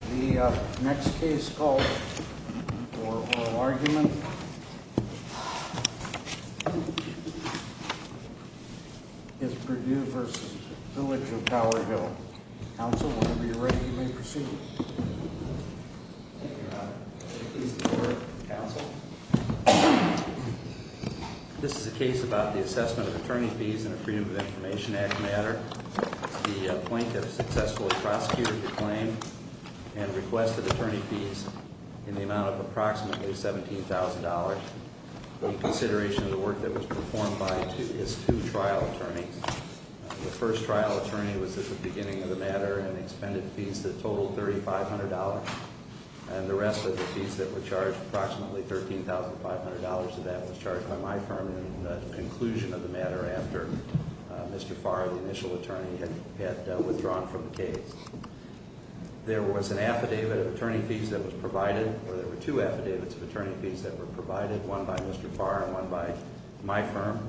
The next case called for oral argument is Perdue v. Village of Tower Hill. Counsel will be ready when you may proceed. Thank you, Your Honor. This is a case before counsel. This is a case about the assessment of attorney fees in a Freedom of Information Act matter. The plaintiff successfully prosecuted the claim and requested attorney fees in the amount of approximately $17,000. The consideration of the work that was performed by his two trial attorneys. The first trial attorney was at the beginning of the matter and expended fees that totaled $3,500. And the rest of the fees that were charged, approximately $13,500 of that, was charged by my firm. In the conclusion of the matter after Mr. Farr, the initial attorney, had withdrawn from the case. There was an affidavit of attorney fees that was provided, or there were two affidavits of attorney fees that were provided. One by Mr. Farr and one by my firm.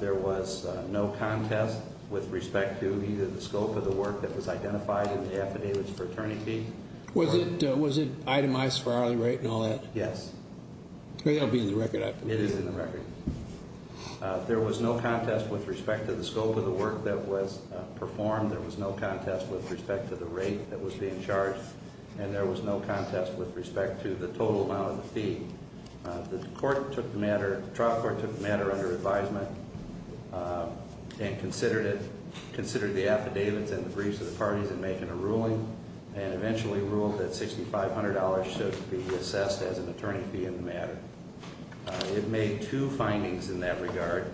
There was no contest with respect to either the scope of the work that was identified in the affidavits for attorney fee. Was it itemized for hourly rate and all that? Yes. It'll be in the record, I believe. It is in the record. There was no contest with respect to the scope of the work that was performed. There was no contest with respect to the rate that was being charged. And there was no contest with respect to the total amount of the fee. The trial court took the matter under advisement and considered the affidavits and the briefs of the parties in making a ruling. And eventually ruled that $6,500 should be assessed as an attorney fee in the matter. It made two findings in that regard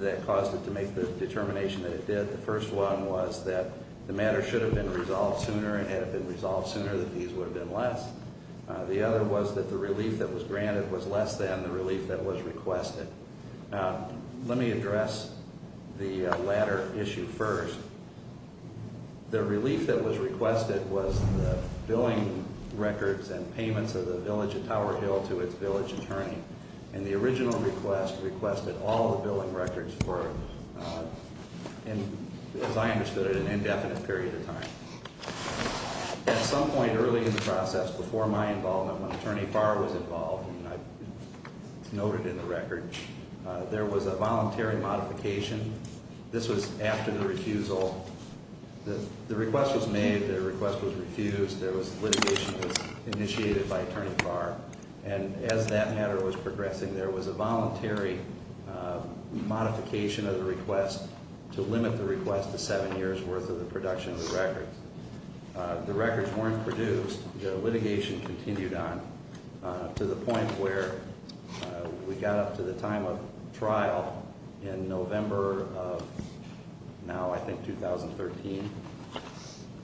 that caused it to make the determination that it did. The first one was that the matter should have been resolved sooner, and had it been resolved sooner, the fees would have been less. The other was that the relief that was granted was less than the relief that was requested. Let me address the latter issue first. The relief that was requested was the billing records and payments of the village of Tower Hill to its village attorney. And the original request requested all the billing records for, as I understood it, an indefinite period of time. At some point early in the process, before my involvement, when Attorney Barr was involved, and I noted in the record, there was a voluntary modification. This was after the refusal. The request was made, the request was refused, litigation was initiated by Attorney Barr. And as that matter was progressing, there was a voluntary modification of the request to limit the request to seven years' worth of the production of the records. The records weren't produced. The litigation continued on to the point where we got up to the time of trial in November of now, I think, 2013.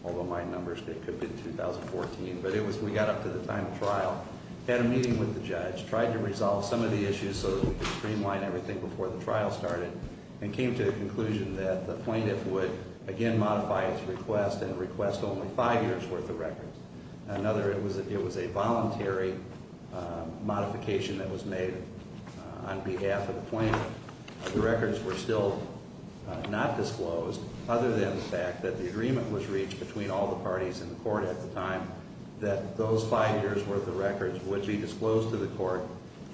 Although my numbers could be 2014. But it was, we got up to the time of trial, had a meeting with the judge, tried to resolve some of the issues so that we could streamline everything before the trial started. And came to the conclusion that the plaintiff would again modify its request and request only five years' worth of records. Another, it was a voluntary modification that was made on behalf of the plaintiff. The records were still not disclosed, other than the fact that the agreement was reached between all the parties in the court at the time, that those five years' worth of records would be disclosed to the court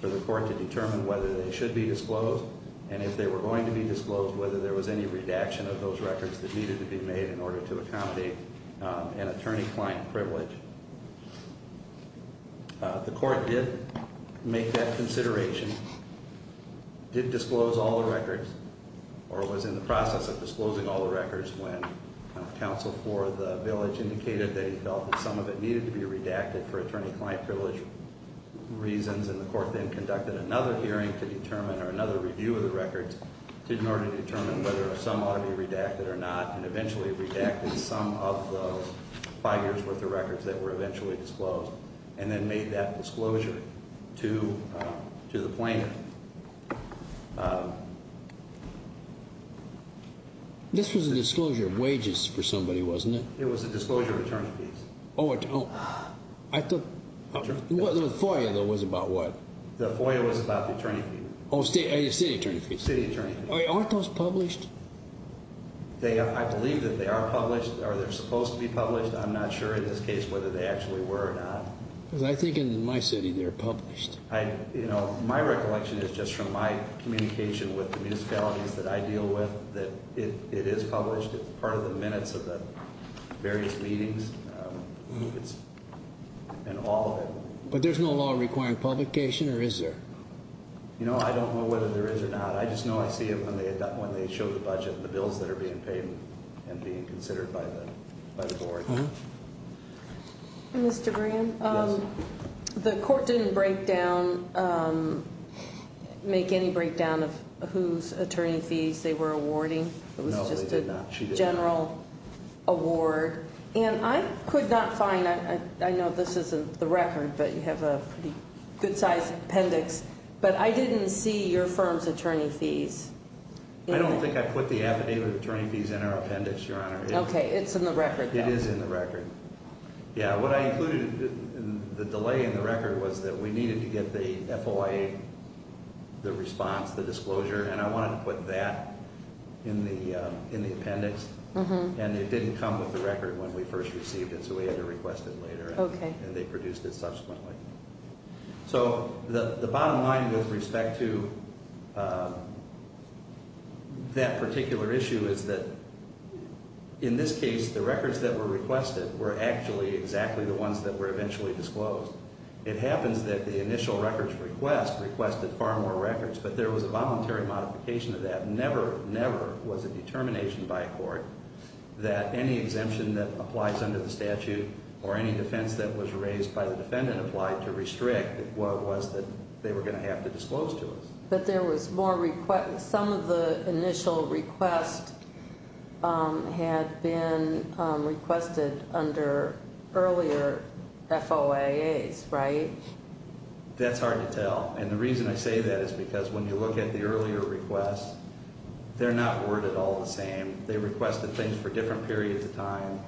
for the court to determine whether they should be disclosed. And if they were going to be disclosed, whether there was any redaction of those records that needed to be made in order to accommodate an attorney-client privilege. The court did make that consideration, did disclose all the records, or was in the process of disclosing all the records, when counsel for the village indicated that he felt that some of it needed to be redacted for attorney-client privilege reasons. And the court then conducted another hearing to determine, or another review of the records, in order to determine whether some ought to be redacted or not. And eventually redacted some of those five years' worth of records that were eventually disclosed. And then made that disclosure to the plaintiff. This was a disclosure of wages for somebody, wasn't it? It was a disclosure of attorney fees. Oh, I thought, the FOIA, though, was about what? The FOIA was about the attorney fee. Oh, city attorney fees. City attorney fees. Aren't those published? I believe that they are published. Are they supposed to be published? I'm not sure in this case whether they actually were or not. Because I think in my city they're published. My recollection is, just from my communication with the municipalities that I deal with, that it is published. It's part of the minutes of the various meetings, and all of it. But there's no law requiring publication, or is there? You know, I don't know whether there is or not. I just know I see it when they show the budget and the bills that are being paid and being considered by the board. Mr. Graham, the court didn't make any breakdown of whose attorney fees they were awarding. No, they did not. It was just a general award. And I could not find, I know this isn't the record, but you have a pretty good-sized appendix. But I didn't see your firm's attorney fees. I don't think I put the affidavit of attorney fees in our appendix, Your Honor. Okay, it's in the record. It is in the record. Yeah, what I included in the delay in the record was that we needed to get the FOIA, the response, the disclosure. And I wanted to put that in the appendix. And it didn't come with the record when we first received it, so we had to request it later. Okay. And they produced it subsequently. So the bottom line with respect to that particular issue is that in this case, the records that were requested were actually exactly the ones that were eventually disclosed. It happens that the initial records request requested far more records, but there was a voluntary modification of that. Never, never was a determination by a court that any exemption that applies under the statute or any defense that was raised by the defendant applied to restrict what was that they were going to have to disclose to us. But there was more requests. Some of the initial requests had been requested under earlier FOIAs, right? That's hard to tell. And the reason I say that is because when you look at the earlier requests, they're not worded all the same. They requested things for different periods of time.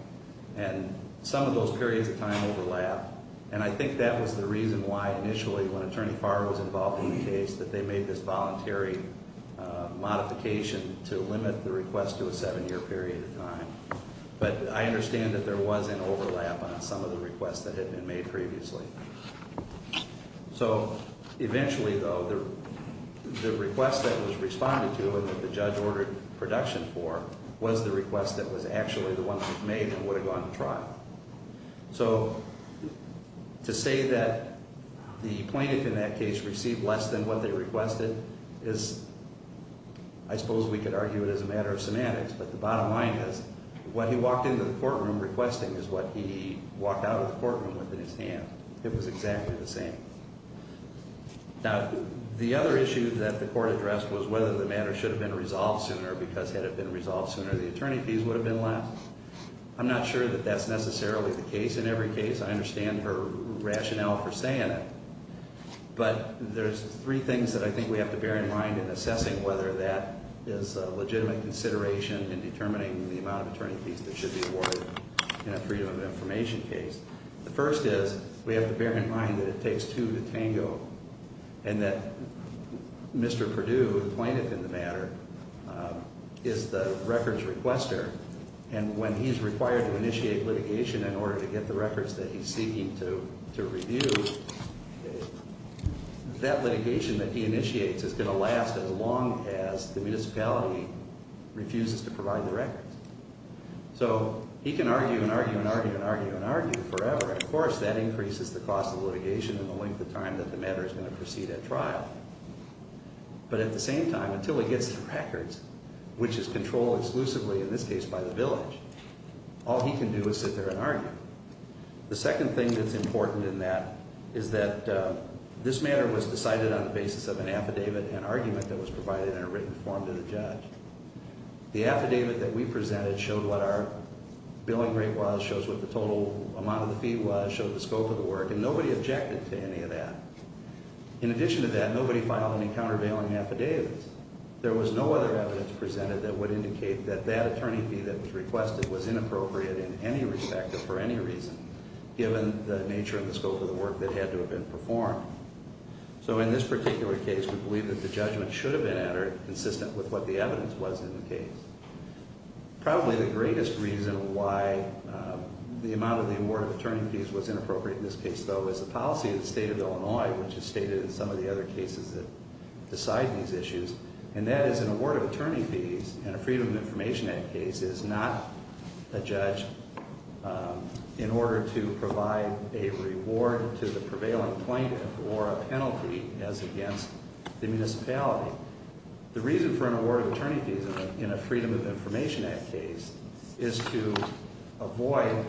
And some of those periods of time overlap. And I think that was the reason why initially when Attorney Farr was involved in the case, that they made this voluntary modification to limit the request to a seven-year period of time. But I understand that there was an overlap on some of the requests that had been made previously. So eventually, though, the request that was responded to and that the judge ordered production for was the request that was actually the one that was made and would have gone to trial. So to say that the plaintiff in that case received less than what they requested is, I suppose we could argue it as a matter of semantics, but the bottom line is what he walked into the courtroom requesting is what he walked out of the courtroom with in his hand. It was exactly the same. Now, the other issue that the court addressed was whether the matter should have been resolved sooner because had it been resolved sooner, the attorney fees would have been less. I'm not sure that that's necessarily the case in every case. I understand her rationale for saying it. But there's three things that I think we have to bear in mind in assessing whether that is a legitimate consideration in determining the amount of attorney fees that should be awarded in a freedom of information case. The first is we have to bear in mind that it takes two to tango and that Mr. Perdue, the plaintiff in the matter, is the records requester, and when he's required to initiate litigation in order to get the records that he's seeking to review, that litigation that he initiates is going to last as long as the municipality refuses to provide the records. So he can argue and argue and argue and argue and argue forever. Of course, that increases the cost of litigation and the length of time that the matter is going to proceed at trial. But at the same time, until he gets the records, which is controlled exclusively in this case by the village, all he can do is sit there and argue. The second thing that's important in that is that this matter was decided on the basis of an affidavit, an argument that was provided in a written form to the judge. The affidavit that we presented showed what our billing rate was, shows what the total amount of the fee was, shows the scope of the work, and nobody objected to any of that. In addition to that, nobody filed any countervailing affidavits. There was no other evidence presented that would indicate that that attorney fee that was requested was inappropriate in any respect or for any reason, given the nature and the scope of the work that had to have been performed. So in this particular case, we believe that the judgment should have been entered consistent with what the evidence was in the case. Probably the greatest reason why the amount of the award of attorney fees was inappropriate in this case, though, is the policy of the state of Illinois, which is stated in some of the other cases that decide these issues, and that is an award of attorney fees in a Freedom of Information Act case is not a judge in order to provide a reward to the prevailing plaintiff or a penalty as against the municipality. The reason for an award of attorney fees in a Freedom of Information Act case is to avoid,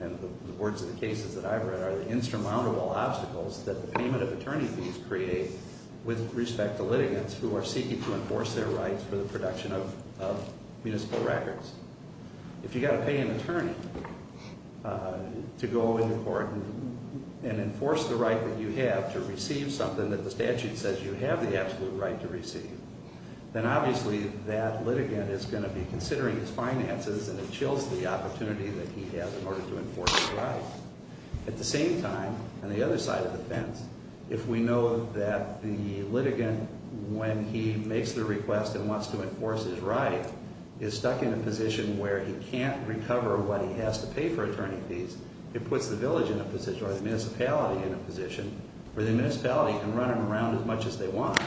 in the words of the cases that I've read, are the insurmountable obstacles that the payment of attorney fees creates with respect to litigants who are seeking to enforce their rights for the production of municipal records. If you've got to pay an attorney to go into court and enforce the right that you have to receive something that the statute says you have the absolute right to receive, then obviously that litigant is going to be considering his finances and it chills the opportunity that he has in order to enforce his rights. At the same time, on the other side of the fence, if we know that the litigant, when he makes the request and wants to enforce his right, is stuck in a position where he can't recover what he has to pay for attorney fees, it puts the village in a position, or the municipality in a position, where the municipality can run them around as much as they want.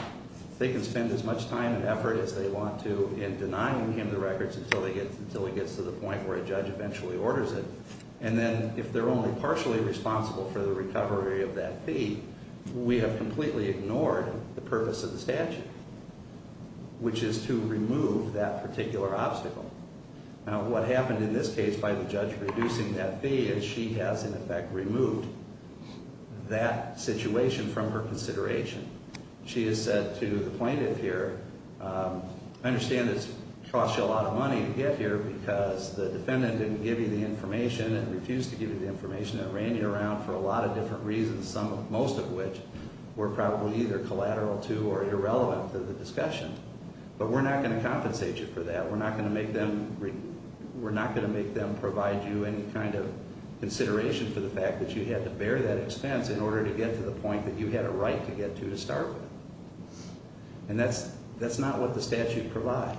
They can spend as much time and effort as they want to in denying him the records until he gets to the point where a judge eventually orders it. And then if they're only partially responsible for the recovery of that fee, we have completely ignored the purpose of the statute, which is to remove that particular obstacle. Now, what happened in this case by the judge reducing that fee is she has, in effect, removed that situation from her consideration. She has said to the plaintiff here, I understand this costs you a lot of money to get here because the defendant didn't give you the information and refused to give you the information and ran you around for a lot of different reasons, most of which were probably either collateral to or irrelevant to the discussion. But we're not going to compensate you for that. We're not going to make them provide you any kind of consideration for the fact that you had to bear that expense in order to get to the point that you had a right to get to to start with. And that's not what the statute provides.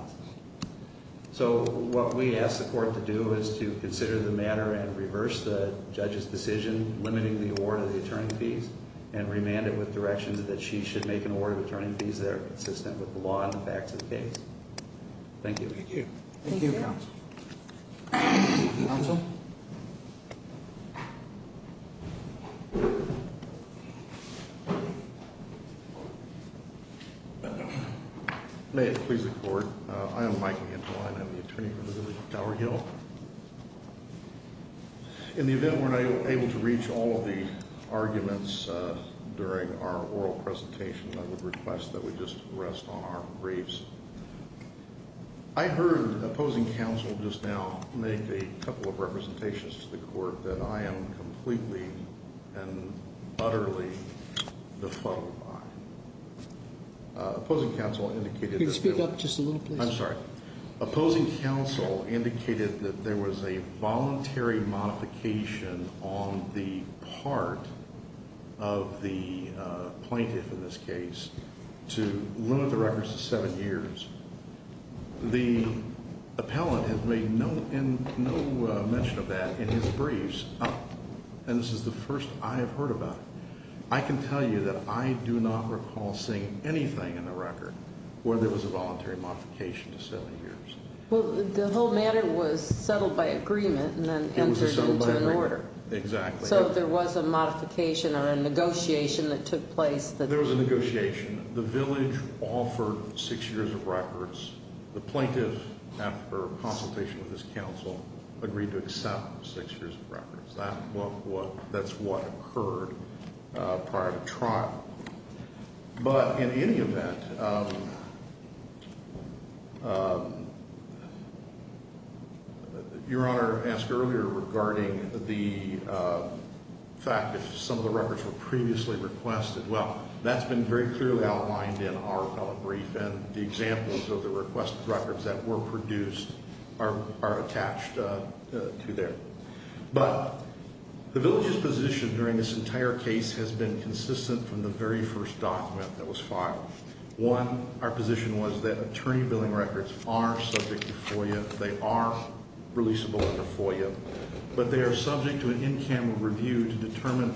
So what we ask the court to do is to consider the matter and reverse the judge's decision limiting the award of the attorney fees and remand it with directions that she should make an award of attorney fees that are consistent with the law and the facts of the case. Thank you. Thank you. Thank you, counsel. Counsel? May it please the court. I am Michael Angelin. I'm the attorney for the village of Tower Hill. In the event we're not able to reach all of the arguments during our oral presentation, I would request that we just rest on our briefs. I heard opposing counsel just now make a couple of representations to the court that I am completely and utterly befuddled by. Opposing counsel indicated that they were. Could you speak up just a little, please? I'm sorry. Opposing counsel indicated that there was a voluntary modification on the part of the plaintiff in this case to limit the records to seven years. The appellant has made no mention of that in his briefs, and this is the first I have heard about it. I can tell you that I do not recall seeing anything in the record where there was a voluntary modification to seven years. Well, the whole matter was settled by agreement and then entered into an order. Exactly. So there was a modification or a negotiation that took place? There was a negotiation. The village offered six years of records. The plaintiff, after consultation with his counsel, agreed to accept six years of records. That's what occurred prior to trial. But in any event, Your Honor asked earlier regarding the fact that some of the records were previously requested. Well, that's been very clearly outlined in our appellate brief, and the examples of the requested records that were produced are attached to there. But the village's position during this entire case has been consistent from the very first document that was filed. One, our position was that attorney billing records are subject to FOIA. They are releasable under FOIA, but they are subject to an in-camera review to determine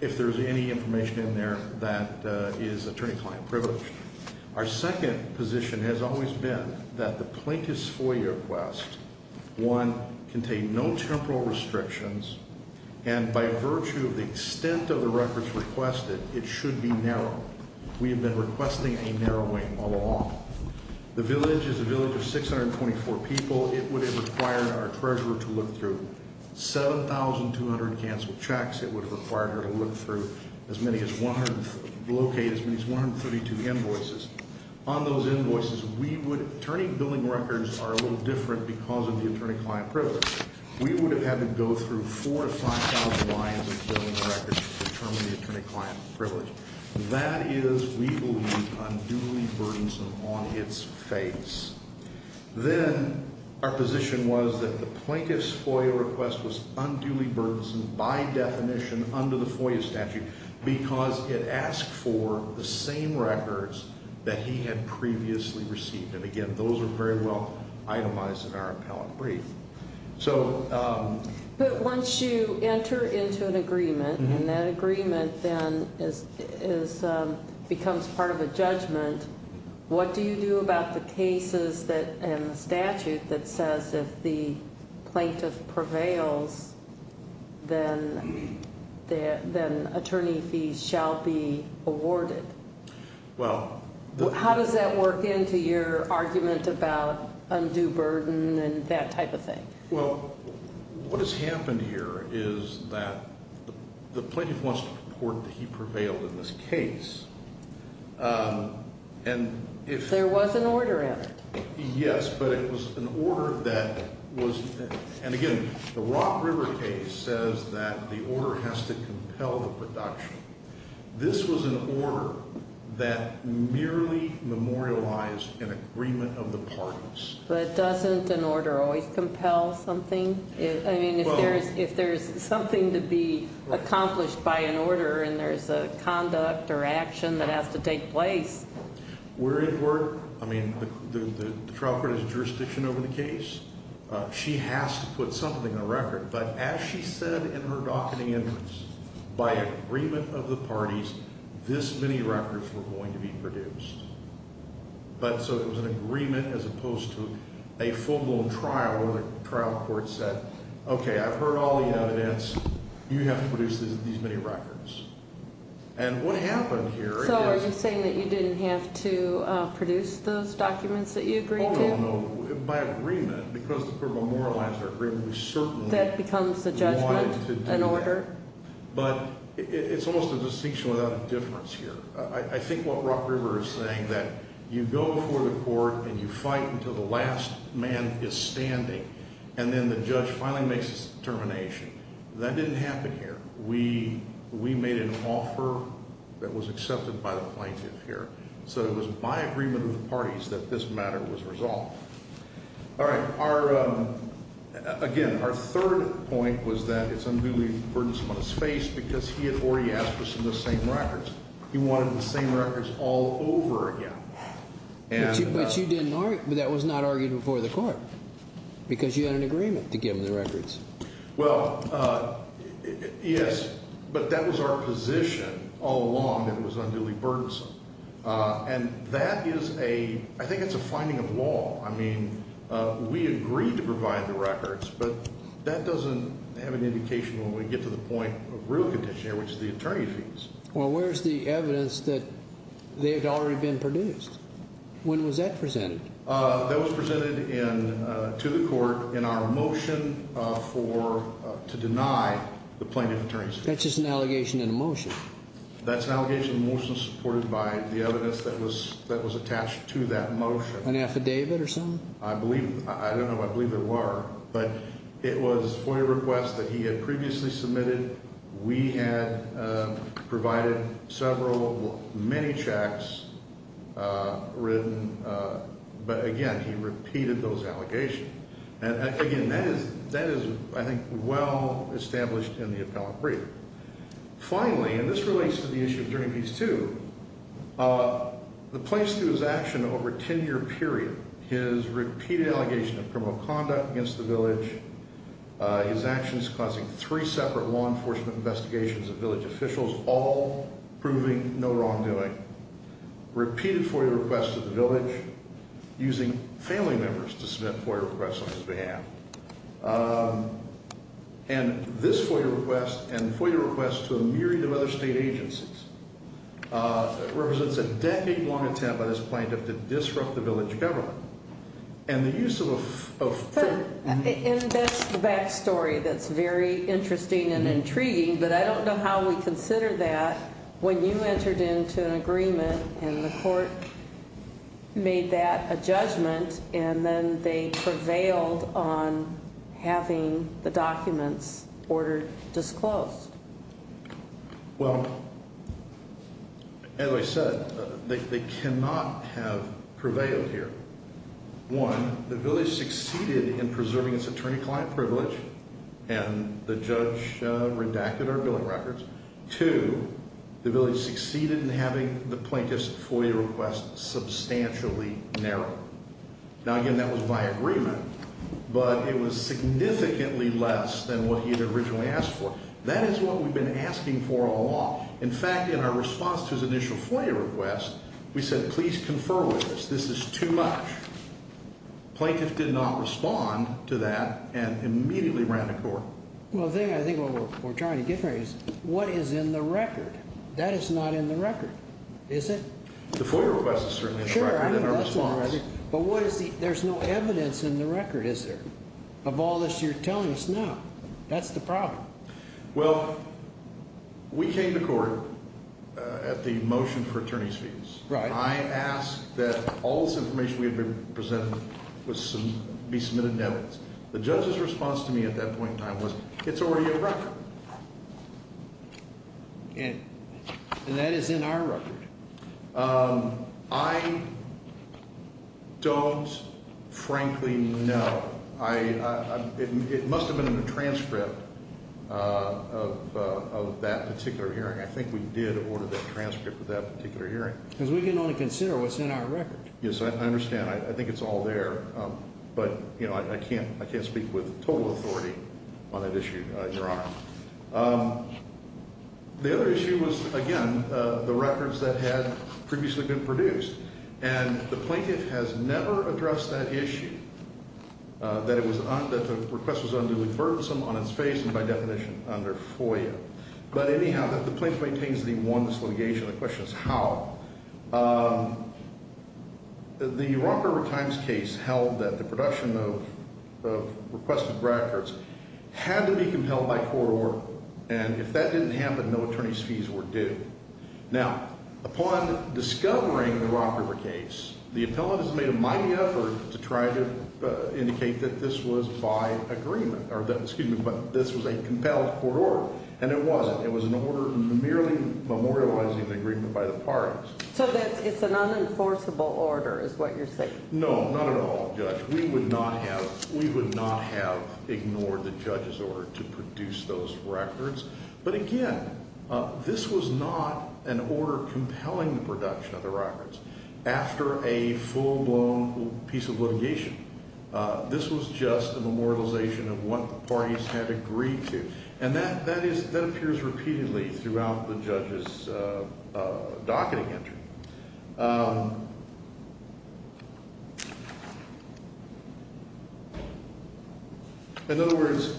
if there's any information in there that is attorney-client privileged. Our second position has always been that the plaintiff's FOIA request, one, contain no temporal restrictions, and by virtue of the extent of the records requested, it should be narrow. We have been requesting a narrowing all along. The village is a village of 624 people. It would have required our treasurer to look through 7,200 canceled checks. It would have required her to look through as many as 132 invoices. On those invoices, attorney billing records are a little different because of the attorney-client privilege. We would have had to go through 4,000 to 5,000 lines of billing records to determine the attorney-client privilege. That is, we believe, unduly burdensome on its face. Then our position was that the plaintiff's FOIA request was unduly burdensome by definition under the FOIA statute because it asked for the same records that he had previously received. Again, those are very well itemized in our appellate brief. Once you enter into an agreement and that agreement then becomes part of a judgment, what do you do about the cases and the statute that says if the plaintiff prevails, then attorney fees shall be awarded? How does that work into your argument about undue burden and that type of thing? Well, what has happened here is that the plaintiff wants to report that he prevailed in this case. There was an order in it. Yes, but it was an order that was, and again, the Rock River case says that the order has to compel the production. This was an order that merely memorialized an agreement of the parties. But doesn't an order always compel something? I mean, if there's something to be accomplished by an order and there's a conduct or action that has to take place. I mean, the trial court has jurisdiction over the case. She has to put something in the record, but as she said in her docketing entrance, by agreement of the parties, this many records were going to be produced. But so it was an agreement as opposed to a full-blown trial where the trial court said, okay, I've heard all the evidence. You have to produce these many records. And what happened here is- So are you saying that you didn't have to produce those documents that you agreed to? Oh, no, no. By agreement, because the court memorialized our agreement, we certainly- That becomes a judgment, an order? But it's almost a distinction without a difference here. I think what Rock River is saying, that you go before the court and you fight until the last man is standing, and then the judge finally makes his determination. That didn't happen here. We made an offer that was accepted by the plaintiff here. So it was by agreement of the parties that this matter was resolved. All right. Again, our third point was that it's unduly burdensome on his face because he had already asked for some of the same records. He wanted the same records all over again. But that was not argued before the court because you had an agreement to give him the records. Well, yes, but that was our position all along that it was unduly burdensome. And that is a-I think it's a finding of law. I mean, we agreed to provide the records, but that doesn't have an indication when we get to the point of real condition here, which is the attorney fees. Well, where's the evidence that they had already been produced? When was that presented? That was presented to the court in our motion to deny the plaintiff attorney's fees. That's just an allegation in a motion. That's an allegation in a motion supported by the evidence that was attached to that motion. An affidavit or something? I don't know. I believe there were. But it was FOIA requests that he had previously submitted. We had provided several, many checks written. But, again, he repeated those allegations. And, again, that is, I think, well established in the appellant brief. Finally, and this relates to the issue of attorney fees too, the plaintiff's action over a 10-year period, his repeated allegation of criminal conduct against the village, his actions causing three separate law enforcement investigations of village officials, all proving no wrongdoing, repeated FOIA requests to the village using family members to submit FOIA requests on his behalf. And this FOIA request and FOIA requests to a myriad of other state agencies represents a decade-long attempt by this plaintiff to disrupt the village government. And the use of a- And that's the back story that's very interesting and intriguing. But I don't know how we consider that when you entered into an agreement and the court made that a judgment and then they prevailed on having the documents ordered disclosed. Well, as I said, they cannot have prevailed here. One, the village succeeded in preserving its attorney-client privilege, and the judge redacted our billing records. Two, the village succeeded in having the plaintiff's FOIA request substantially narrowed. Now, again, that was by agreement, but it was significantly less than what he had originally asked for. That is what we've been asking for all along. In fact, in our response to his initial FOIA request, we said, please confer with us. This is too much. Plaintiff did not respond to that and immediately ran to court. Well, the thing I think what we're trying to get at is what is in the record? That is not in the record, is it? The FOIA request is certainly in the record. Sure, I mean, that's not in the record. But what is the – there's no evidence in the record, is there, of all this you're telling us now? That's the problem. Well, we came to court at the motion for attorney's fees. Right. I asked that all this information we had been presenting be submitted in evidence. The judge's response to me at that point in time was, it's already in the record. And that is in our record. I don't frankly know. It must have been in the transcript of that particular hearing. I think we did order that transcript of that particular hearing. Because we can only consider what's in our record. Yes, I understand. I think it's all there. But, you know, I can't speak with total authority on that issue, Your Honor. The other issue was, again, the records that had previously been produced. And the plaintiff has never addressed that issue, that the request was unduly burdensome on its face and, by definition, under FOIA. But anyhow, the plaintiff maintains that he won this litigation. The question is how. The Rock River Times case held that the production of requested records had to be compelled by court order. And if that didn't happen, no attorney's fees were due. Now, upon discovering the Rock River case, the appellant has made a mighty effort to try to indicate that this was by agreement. Excuse me, but this was a compelled court order. And it wasn't. It was an order merely memorializing the agreement by the parties. So it's an unenforceable order is what you're saying. No, not at all, Judge. We would not have ignored the judge's order to produce those records. But, again, this was not an order compelling the production of the records after a full-blown piece of litigation. This was just a memorialization of what the parties had agreed to. And that appears repeatedly throughout the judge's docketing entry. In other words,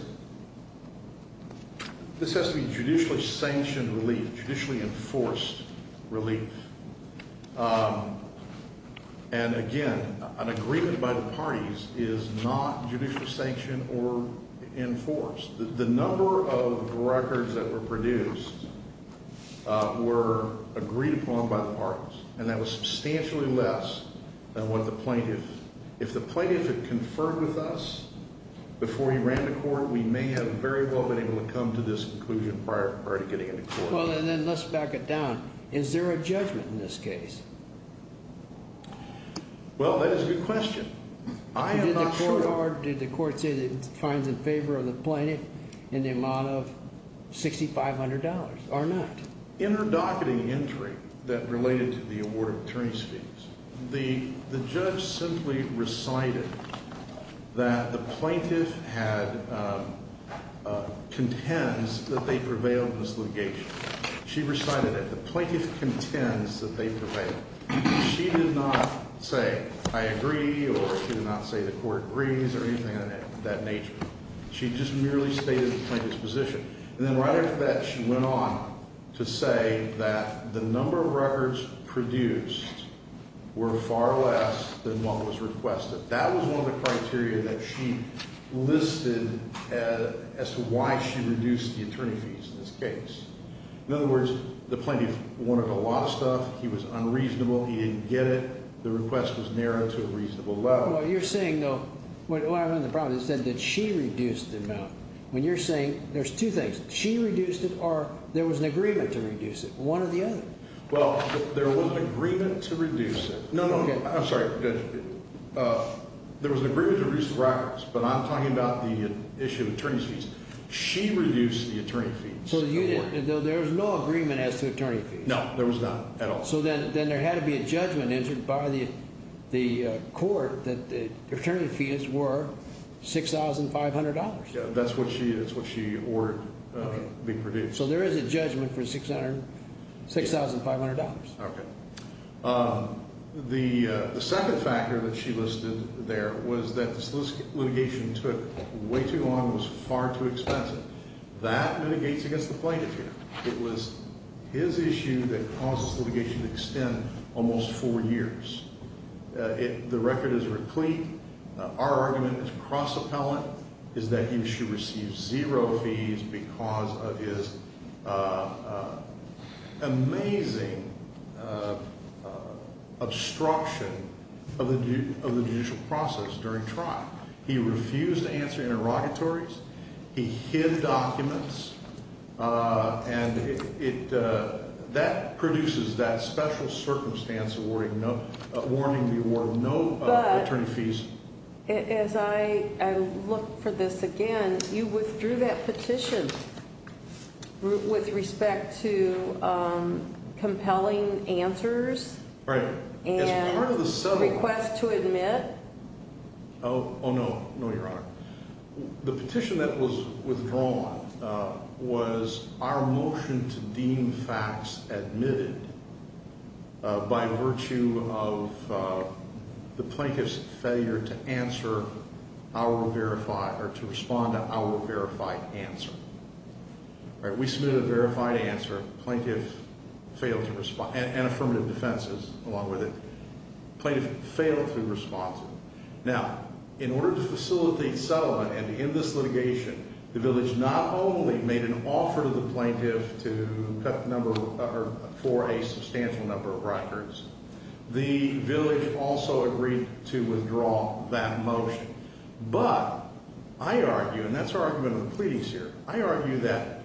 this has to be judicially sanctioned relief, judicially enforced relief. And, again, an agreement by the parties is not judicially sanctioned or enforced. The number of records that were produced were agreed upon by the parties, and that was substantially less than what the plaintiff. If the plaintiff had conferred with us before he ran to court, we may have very well been able to come to this conclusion prior to getting into court. Well, and then let's back it down. Is there a judgment in this case? Well, that is a good question. I am not sure. Did the court say that it finds in favor of the plaintiff in the amount of $6,500 or not? In her docketing entry that related to the award of attorney's fees, the judge simply recited that the plaintiff had contends that they prevailed in this litigation. She recited it. The plaintiff contends that they prevailed. She did not say, I agree, or she did not say the court agrees or anything of that nature. She just merely stated the plaintiff's position. And then right after that, she went on to say that the number of records produced were far less than what was requested. That was one of the criteria that she listed as to why she reduced the attorney fees in this case. In other words, the plaintiff wanted a lot of stuff. He was unreasonable. He didn't get it. The request was narrowed to a reasonable level. Well, you're saying, though, well, I understand the problem. You said that she reduced the amount. When you're saying there's two things, she reduced it or there was an agreement to reduce it, one or the other. Well, there was an agreement to reduce it. No, no, no. I'm sorry. There was an agreement to reduce the records, but I'm talking about the issue of attorney's fees. She reduced the attorney fees. So there was no agreement as to attorney fees. No, there was not at all. So then there had to be a judgment entered by the court that the attorney fees were $6,500. That's what she ordered to be produced. So there is a judgment for $6,500. Okay. The second factor that she listed there was that the litigation took way too long and was far too expensive. That mitigates against the plaintiff here. It was his issue that caused this litigation to extend almost four years. The record is replete. Our argument is cross-appellant, is that he should receive zero fees because of his amazing obstruction of the judicial process during trial. He refused to answer interrogatories. He hid documents, and that produces that special circumstance awarding the award no attorney fees. But as I look for this again, you withdrew that petition with respect to compelling answers. Right. And request to admit. Oh, no. No, Your Honor. The petition that was withdrawn was our motion to deem facts admitted by virtue of the plaintiff's failure to answer our verified or to respond to our verified answer. All right. We submitted a verified answer. Plaintiff failed to respond and affirmative defenses along with it. Plaintiff failed to respond. Now, in order to facilitate settlement and to end this litigation, the village not only made an offer to the plaintiff to cut the number for a substantial number of records, the village also agreed to withdraw that motion. But I argue, and that's our argument of the pleadings here, I argue that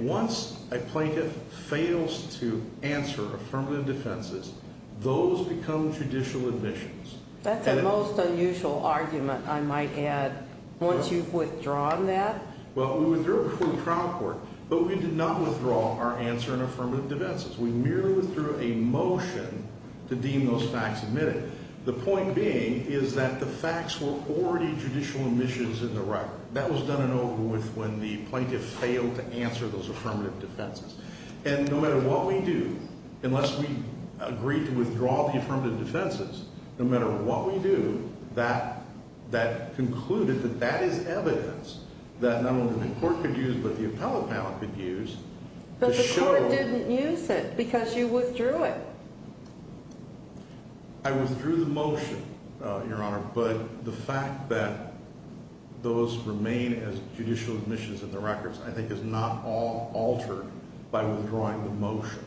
once a plaintiff fails to answer affirmative defenses, those become judicial admissions. That's a most unusual argument, I might add, once you've withdrawn that. Well, we withdrew it before the trial court, but we did not withdraw our answer in affirmative defenses. We merely withdrew a motion to deem those facts admitted. The point being is that the facts were already judicial admissions in the record. That was done in over with when the plaintiff failed to answer those affirmative defenses. And no matter what we do, unless we agree to withdraw the affirmative defenses, no matter what we do, that concluded that that is evidence that not only the court could use but the appellate panel could use to show. But the court didn't use it because you withdrew it. I withdrew the motion, Your Honor, but the fact that those remain as judicial admissions in the records I think is not altered by withdrawing the motion.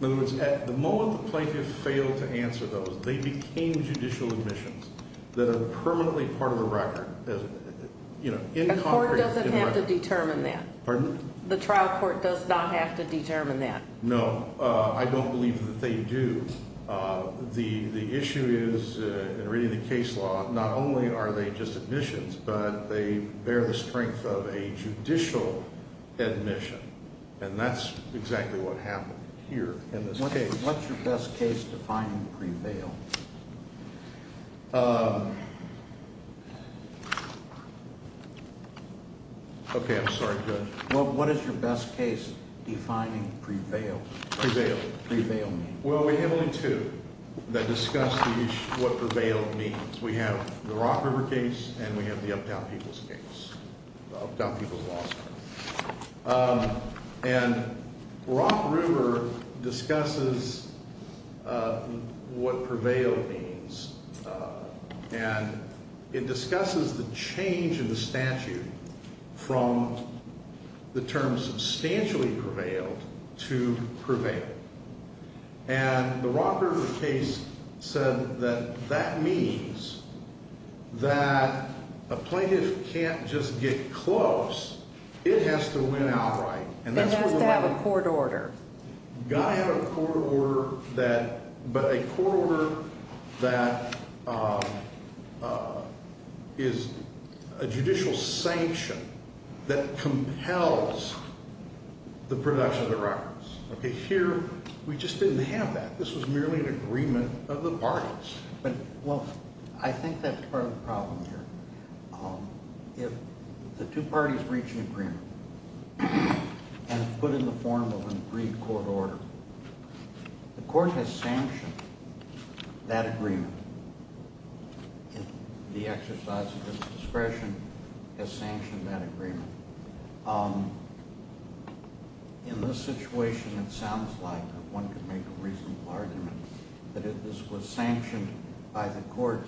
In other words, at the moment the plaintiff failed to answer those, they became judicial admissions that are permanently part of the record. The court doesn't have to determine that. Pardon? The trial court does not have to determine that. No, I don't believe that they do. The issue is, in reading the case law, not only are they just admissions, but they bear the strength of a judicial admission, and that's exactly what happened here in this case. What's your best case defining pre-bail? Okay, I'm sorry. Go ahead. What is your best case defining pre-bail? Pre-bail. Pre-bail means? Well, we have only two that discuss what pre-bail means. We have the Rock River case and we have the Uptown People's case, the Uptown People's Lawsuit. And Rock River discusses what pre-bail means. And it discusses the change in the statute from the term substantially pre-bail to pre-bail. And the Rock River case said that that means that a plaintiff can't just get close. It has to win outright. It has to have a court order. It's got to have a court order, but a court order that is a judicial sanction that compels the production of the records. Okay, here we just didn't have that. This was merely an agreement of the parties. Well, I think that's part of the problem here. If the two parties reach an agreement and it's put in the form of an agreed court order, the court has sanctioned that agreement. In this situation, it sounds like one could make a reasonable argument that this was sanctioned by the court,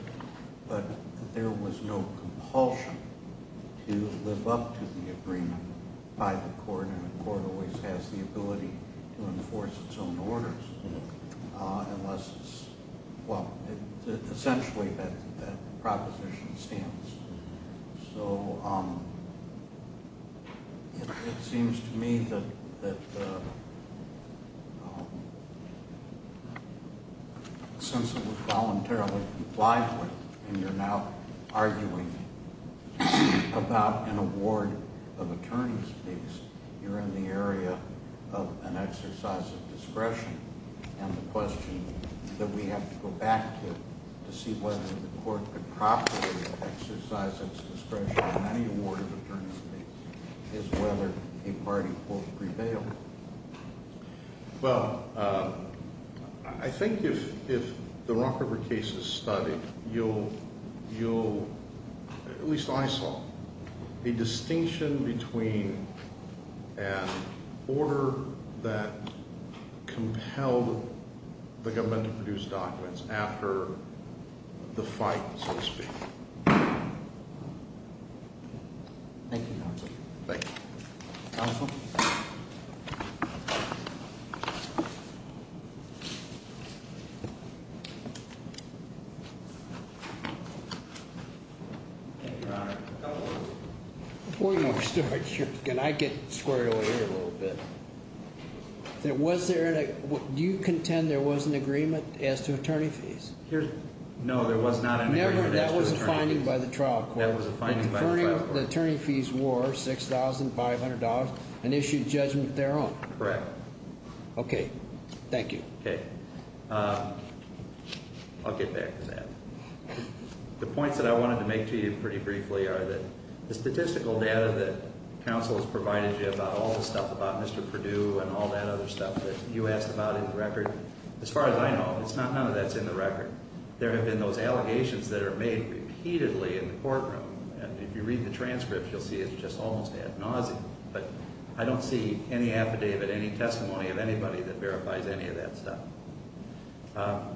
but there was no compulsion to live up to the agreement by the court, and the court always has the ability to enforce its own orders, unless it's – well, essentially that proposition stands. So it seems to me that since it was voluntarily applied for and you're now arguing about an award of attorney's fees, you're in the area of an exercise of discretion. And the question that we have to go back to to see whether the court could properly exercise its discretion on any award of attorney's fees is whether a party will prevail. Well, I think if the Rock River case is studied, you'll – at least I saw a distinction between an order that compelled the government to produce documents after the fight, so to speak. Thank you, counsel. Thank you. Counsel? Your Honor, a couple of – Before you start, can I get squared away here a little bit? There was – do you contend there was an agreement as to attorney fees? No, there was not an agreement as to attorney fees. That was a finding by the trial court. That was a finding by the trial court. The attorney fees were $6,500 and issued judgment thereof. Correct. Okay. Thank you. Okay. I'll get back to that. The points that I wanted to make to you pretty briefly are that the statistical data that counsel has provided you about all the stuff about Mr. Perdue and all that other stuff that you asked about in the record, as far as I know, it's not – none of that's in the record. There have been those allegations that are made repeatedly in the courtroom, and if you read the transcript, you'll see it's just almost ad nauseum. But I don't see any affidavit, any testimony of anybody that verifies any of that stuff.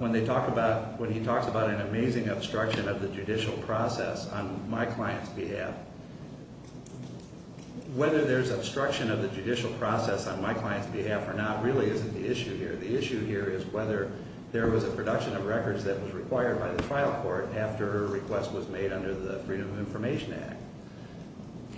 When they talk about – when he talks about an amazing obstruction of the judicial process on my client's behalf, whether there's obstruction of the judicial process on my client's behalf or not really isn't the issue here. The issue here is whether there was a production of records that was required by the trial court after a request was made under the Freedom of Information Act.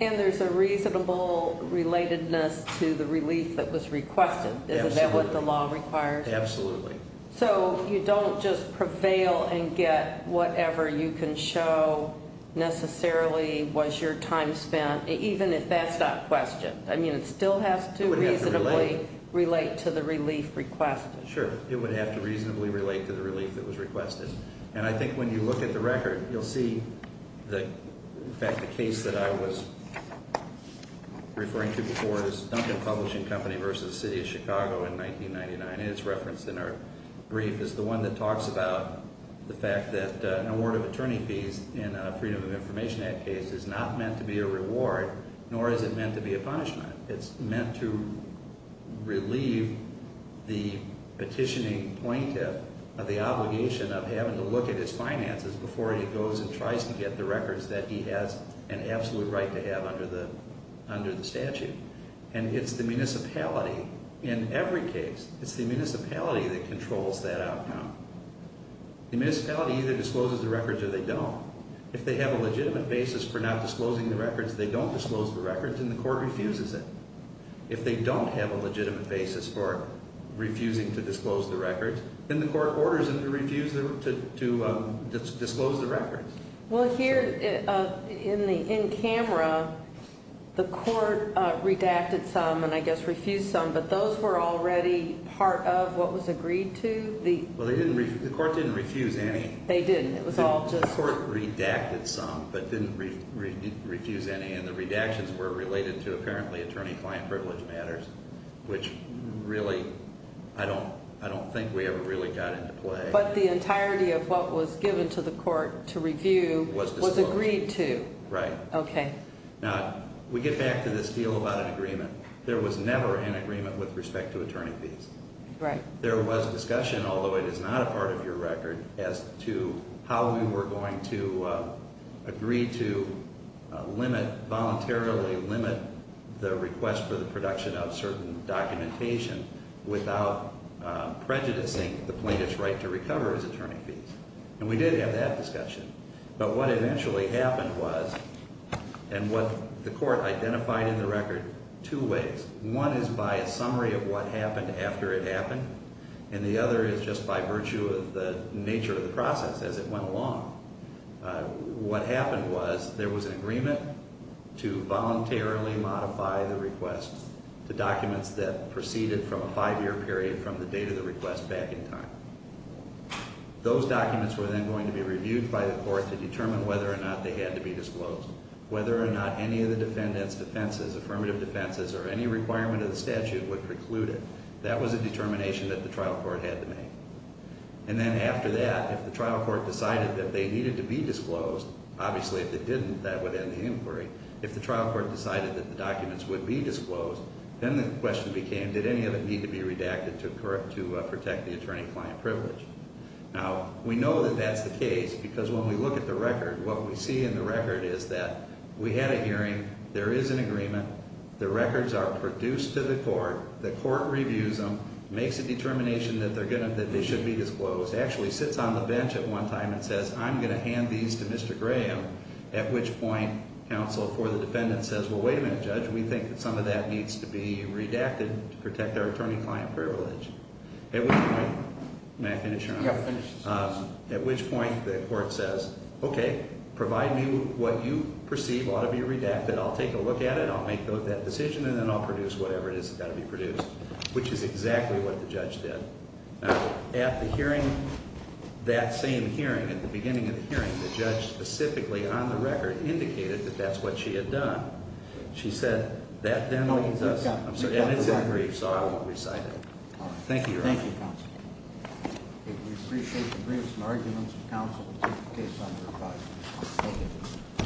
And there's a reasonable relatedness to the relief that was requested. Absolutely. Isn't that what the law requires? Absolutely. So you don't just prevail and get whatever you can show necessarily was your time spent, even if that's not questioned. I mean, it still has to reasonably relate to the relief requested. Sure. It would have to reasonably relate to the relief that was requested. And I think when you look at the record, you'll see that, in fact, the case that I was referring to before is Duncan Publishing Company v. City of Chicago in 1999. And it's referenced in our brief as the one that talks about the fact that an award of attorney fees in a Freedom of Information Act case is not meant to be a reward, nor is it meant to be a punishment. It's meant to relieve the petitioning plaintiff of the obligation of having to look at his finances before he goes and tries to get the records that he has an absolute right to have under the statute. And it's the municipality, in every case, it's the municipality that controls that outcome. The municipality either discloses the records or they don't. If they have a legitimate basis for not disclosing the records, they don't disclose the records and the court refuses it. If they don't have a legitimate basis for refusing to disclose the records, then the court orders them to refuse to disclose the records. Well, here in camera, the court redacted some and I guess refused some, but those were already part of what was agreed to? Well, the court didn't refuse any. They didn't. The court redacted some but didn't refuse any and the redactions were related to apparently attorney-client privilege matters, which really, I don't think we ever really got into play. But the entirety of what was given to the court to review was agreed to? Right. Okay. Now, we get back to this deal about an agreement. There was never an agreement with respect to attorney fees. Right. There was discussion, although it is not a part of your record, as to how we were going to agree to limit, voluntarily limit, the request for the production of certain documentation without prejudicing the plaintiff's right to recover his attorney fees. And we did have that discussion. But what eventually happened was, and what the court identified in the record two ways. One is by a summary of what happened after it happened and the other is just by virtue of the nature of the process as it went along. What happened was there was an agreement to voluntarily modify the request to documents that proceeded from a five-year period from the date of the request back in time. Those documents were then going to be reviewed by the court to determine whether or not they had to be disclosed. Whether or not any of the defendant's defenses, affirmative defenses, or any requirement of the statute would preclude it. That was a determination that the trial court had to make. And then after that, if the trial court decided that they needed to be disclosed, obviously if they didn't, that would end the inquiry. If the trial court decided that the documents would be disclosed, then the question became, did any of it need to be redacted to protect the attorney-client privilege? Now, we know that that's the case because when we look at the record, what we see in the record is that we had a hearing. There is an agreement. The records are produced to the court. The court reviews them, makes a determination that they should be disclosed. Actually sits on the bench at one time and says, I'm going to hand these to Mr. Graham. At which point, counsel for the defendant says, well, wait a minute, Judge, we think that some of that needs to be redacted to protect our attorney-client privilege. At which point, may I finish, Your Honor? Yeah, finish. At which point, the court says, okay, provide me what you perceive ought to be redacted. I'll take a look at it. I'll make that decision, and then I'll produce whatever it is that's got to be produced, which is exactly what the judge did. Now, at the hearing, that same hearing, at the beginning of the hearing, the judge specifically on the record indicated that that's what she had done. She said, that then leaves us. And it's in the brief, so I won't recite it. Thank you, Your Honor. Thank you, counsel. Okay, we appreciate the briefs and arguments. Counsel will take the case under review. Thank you.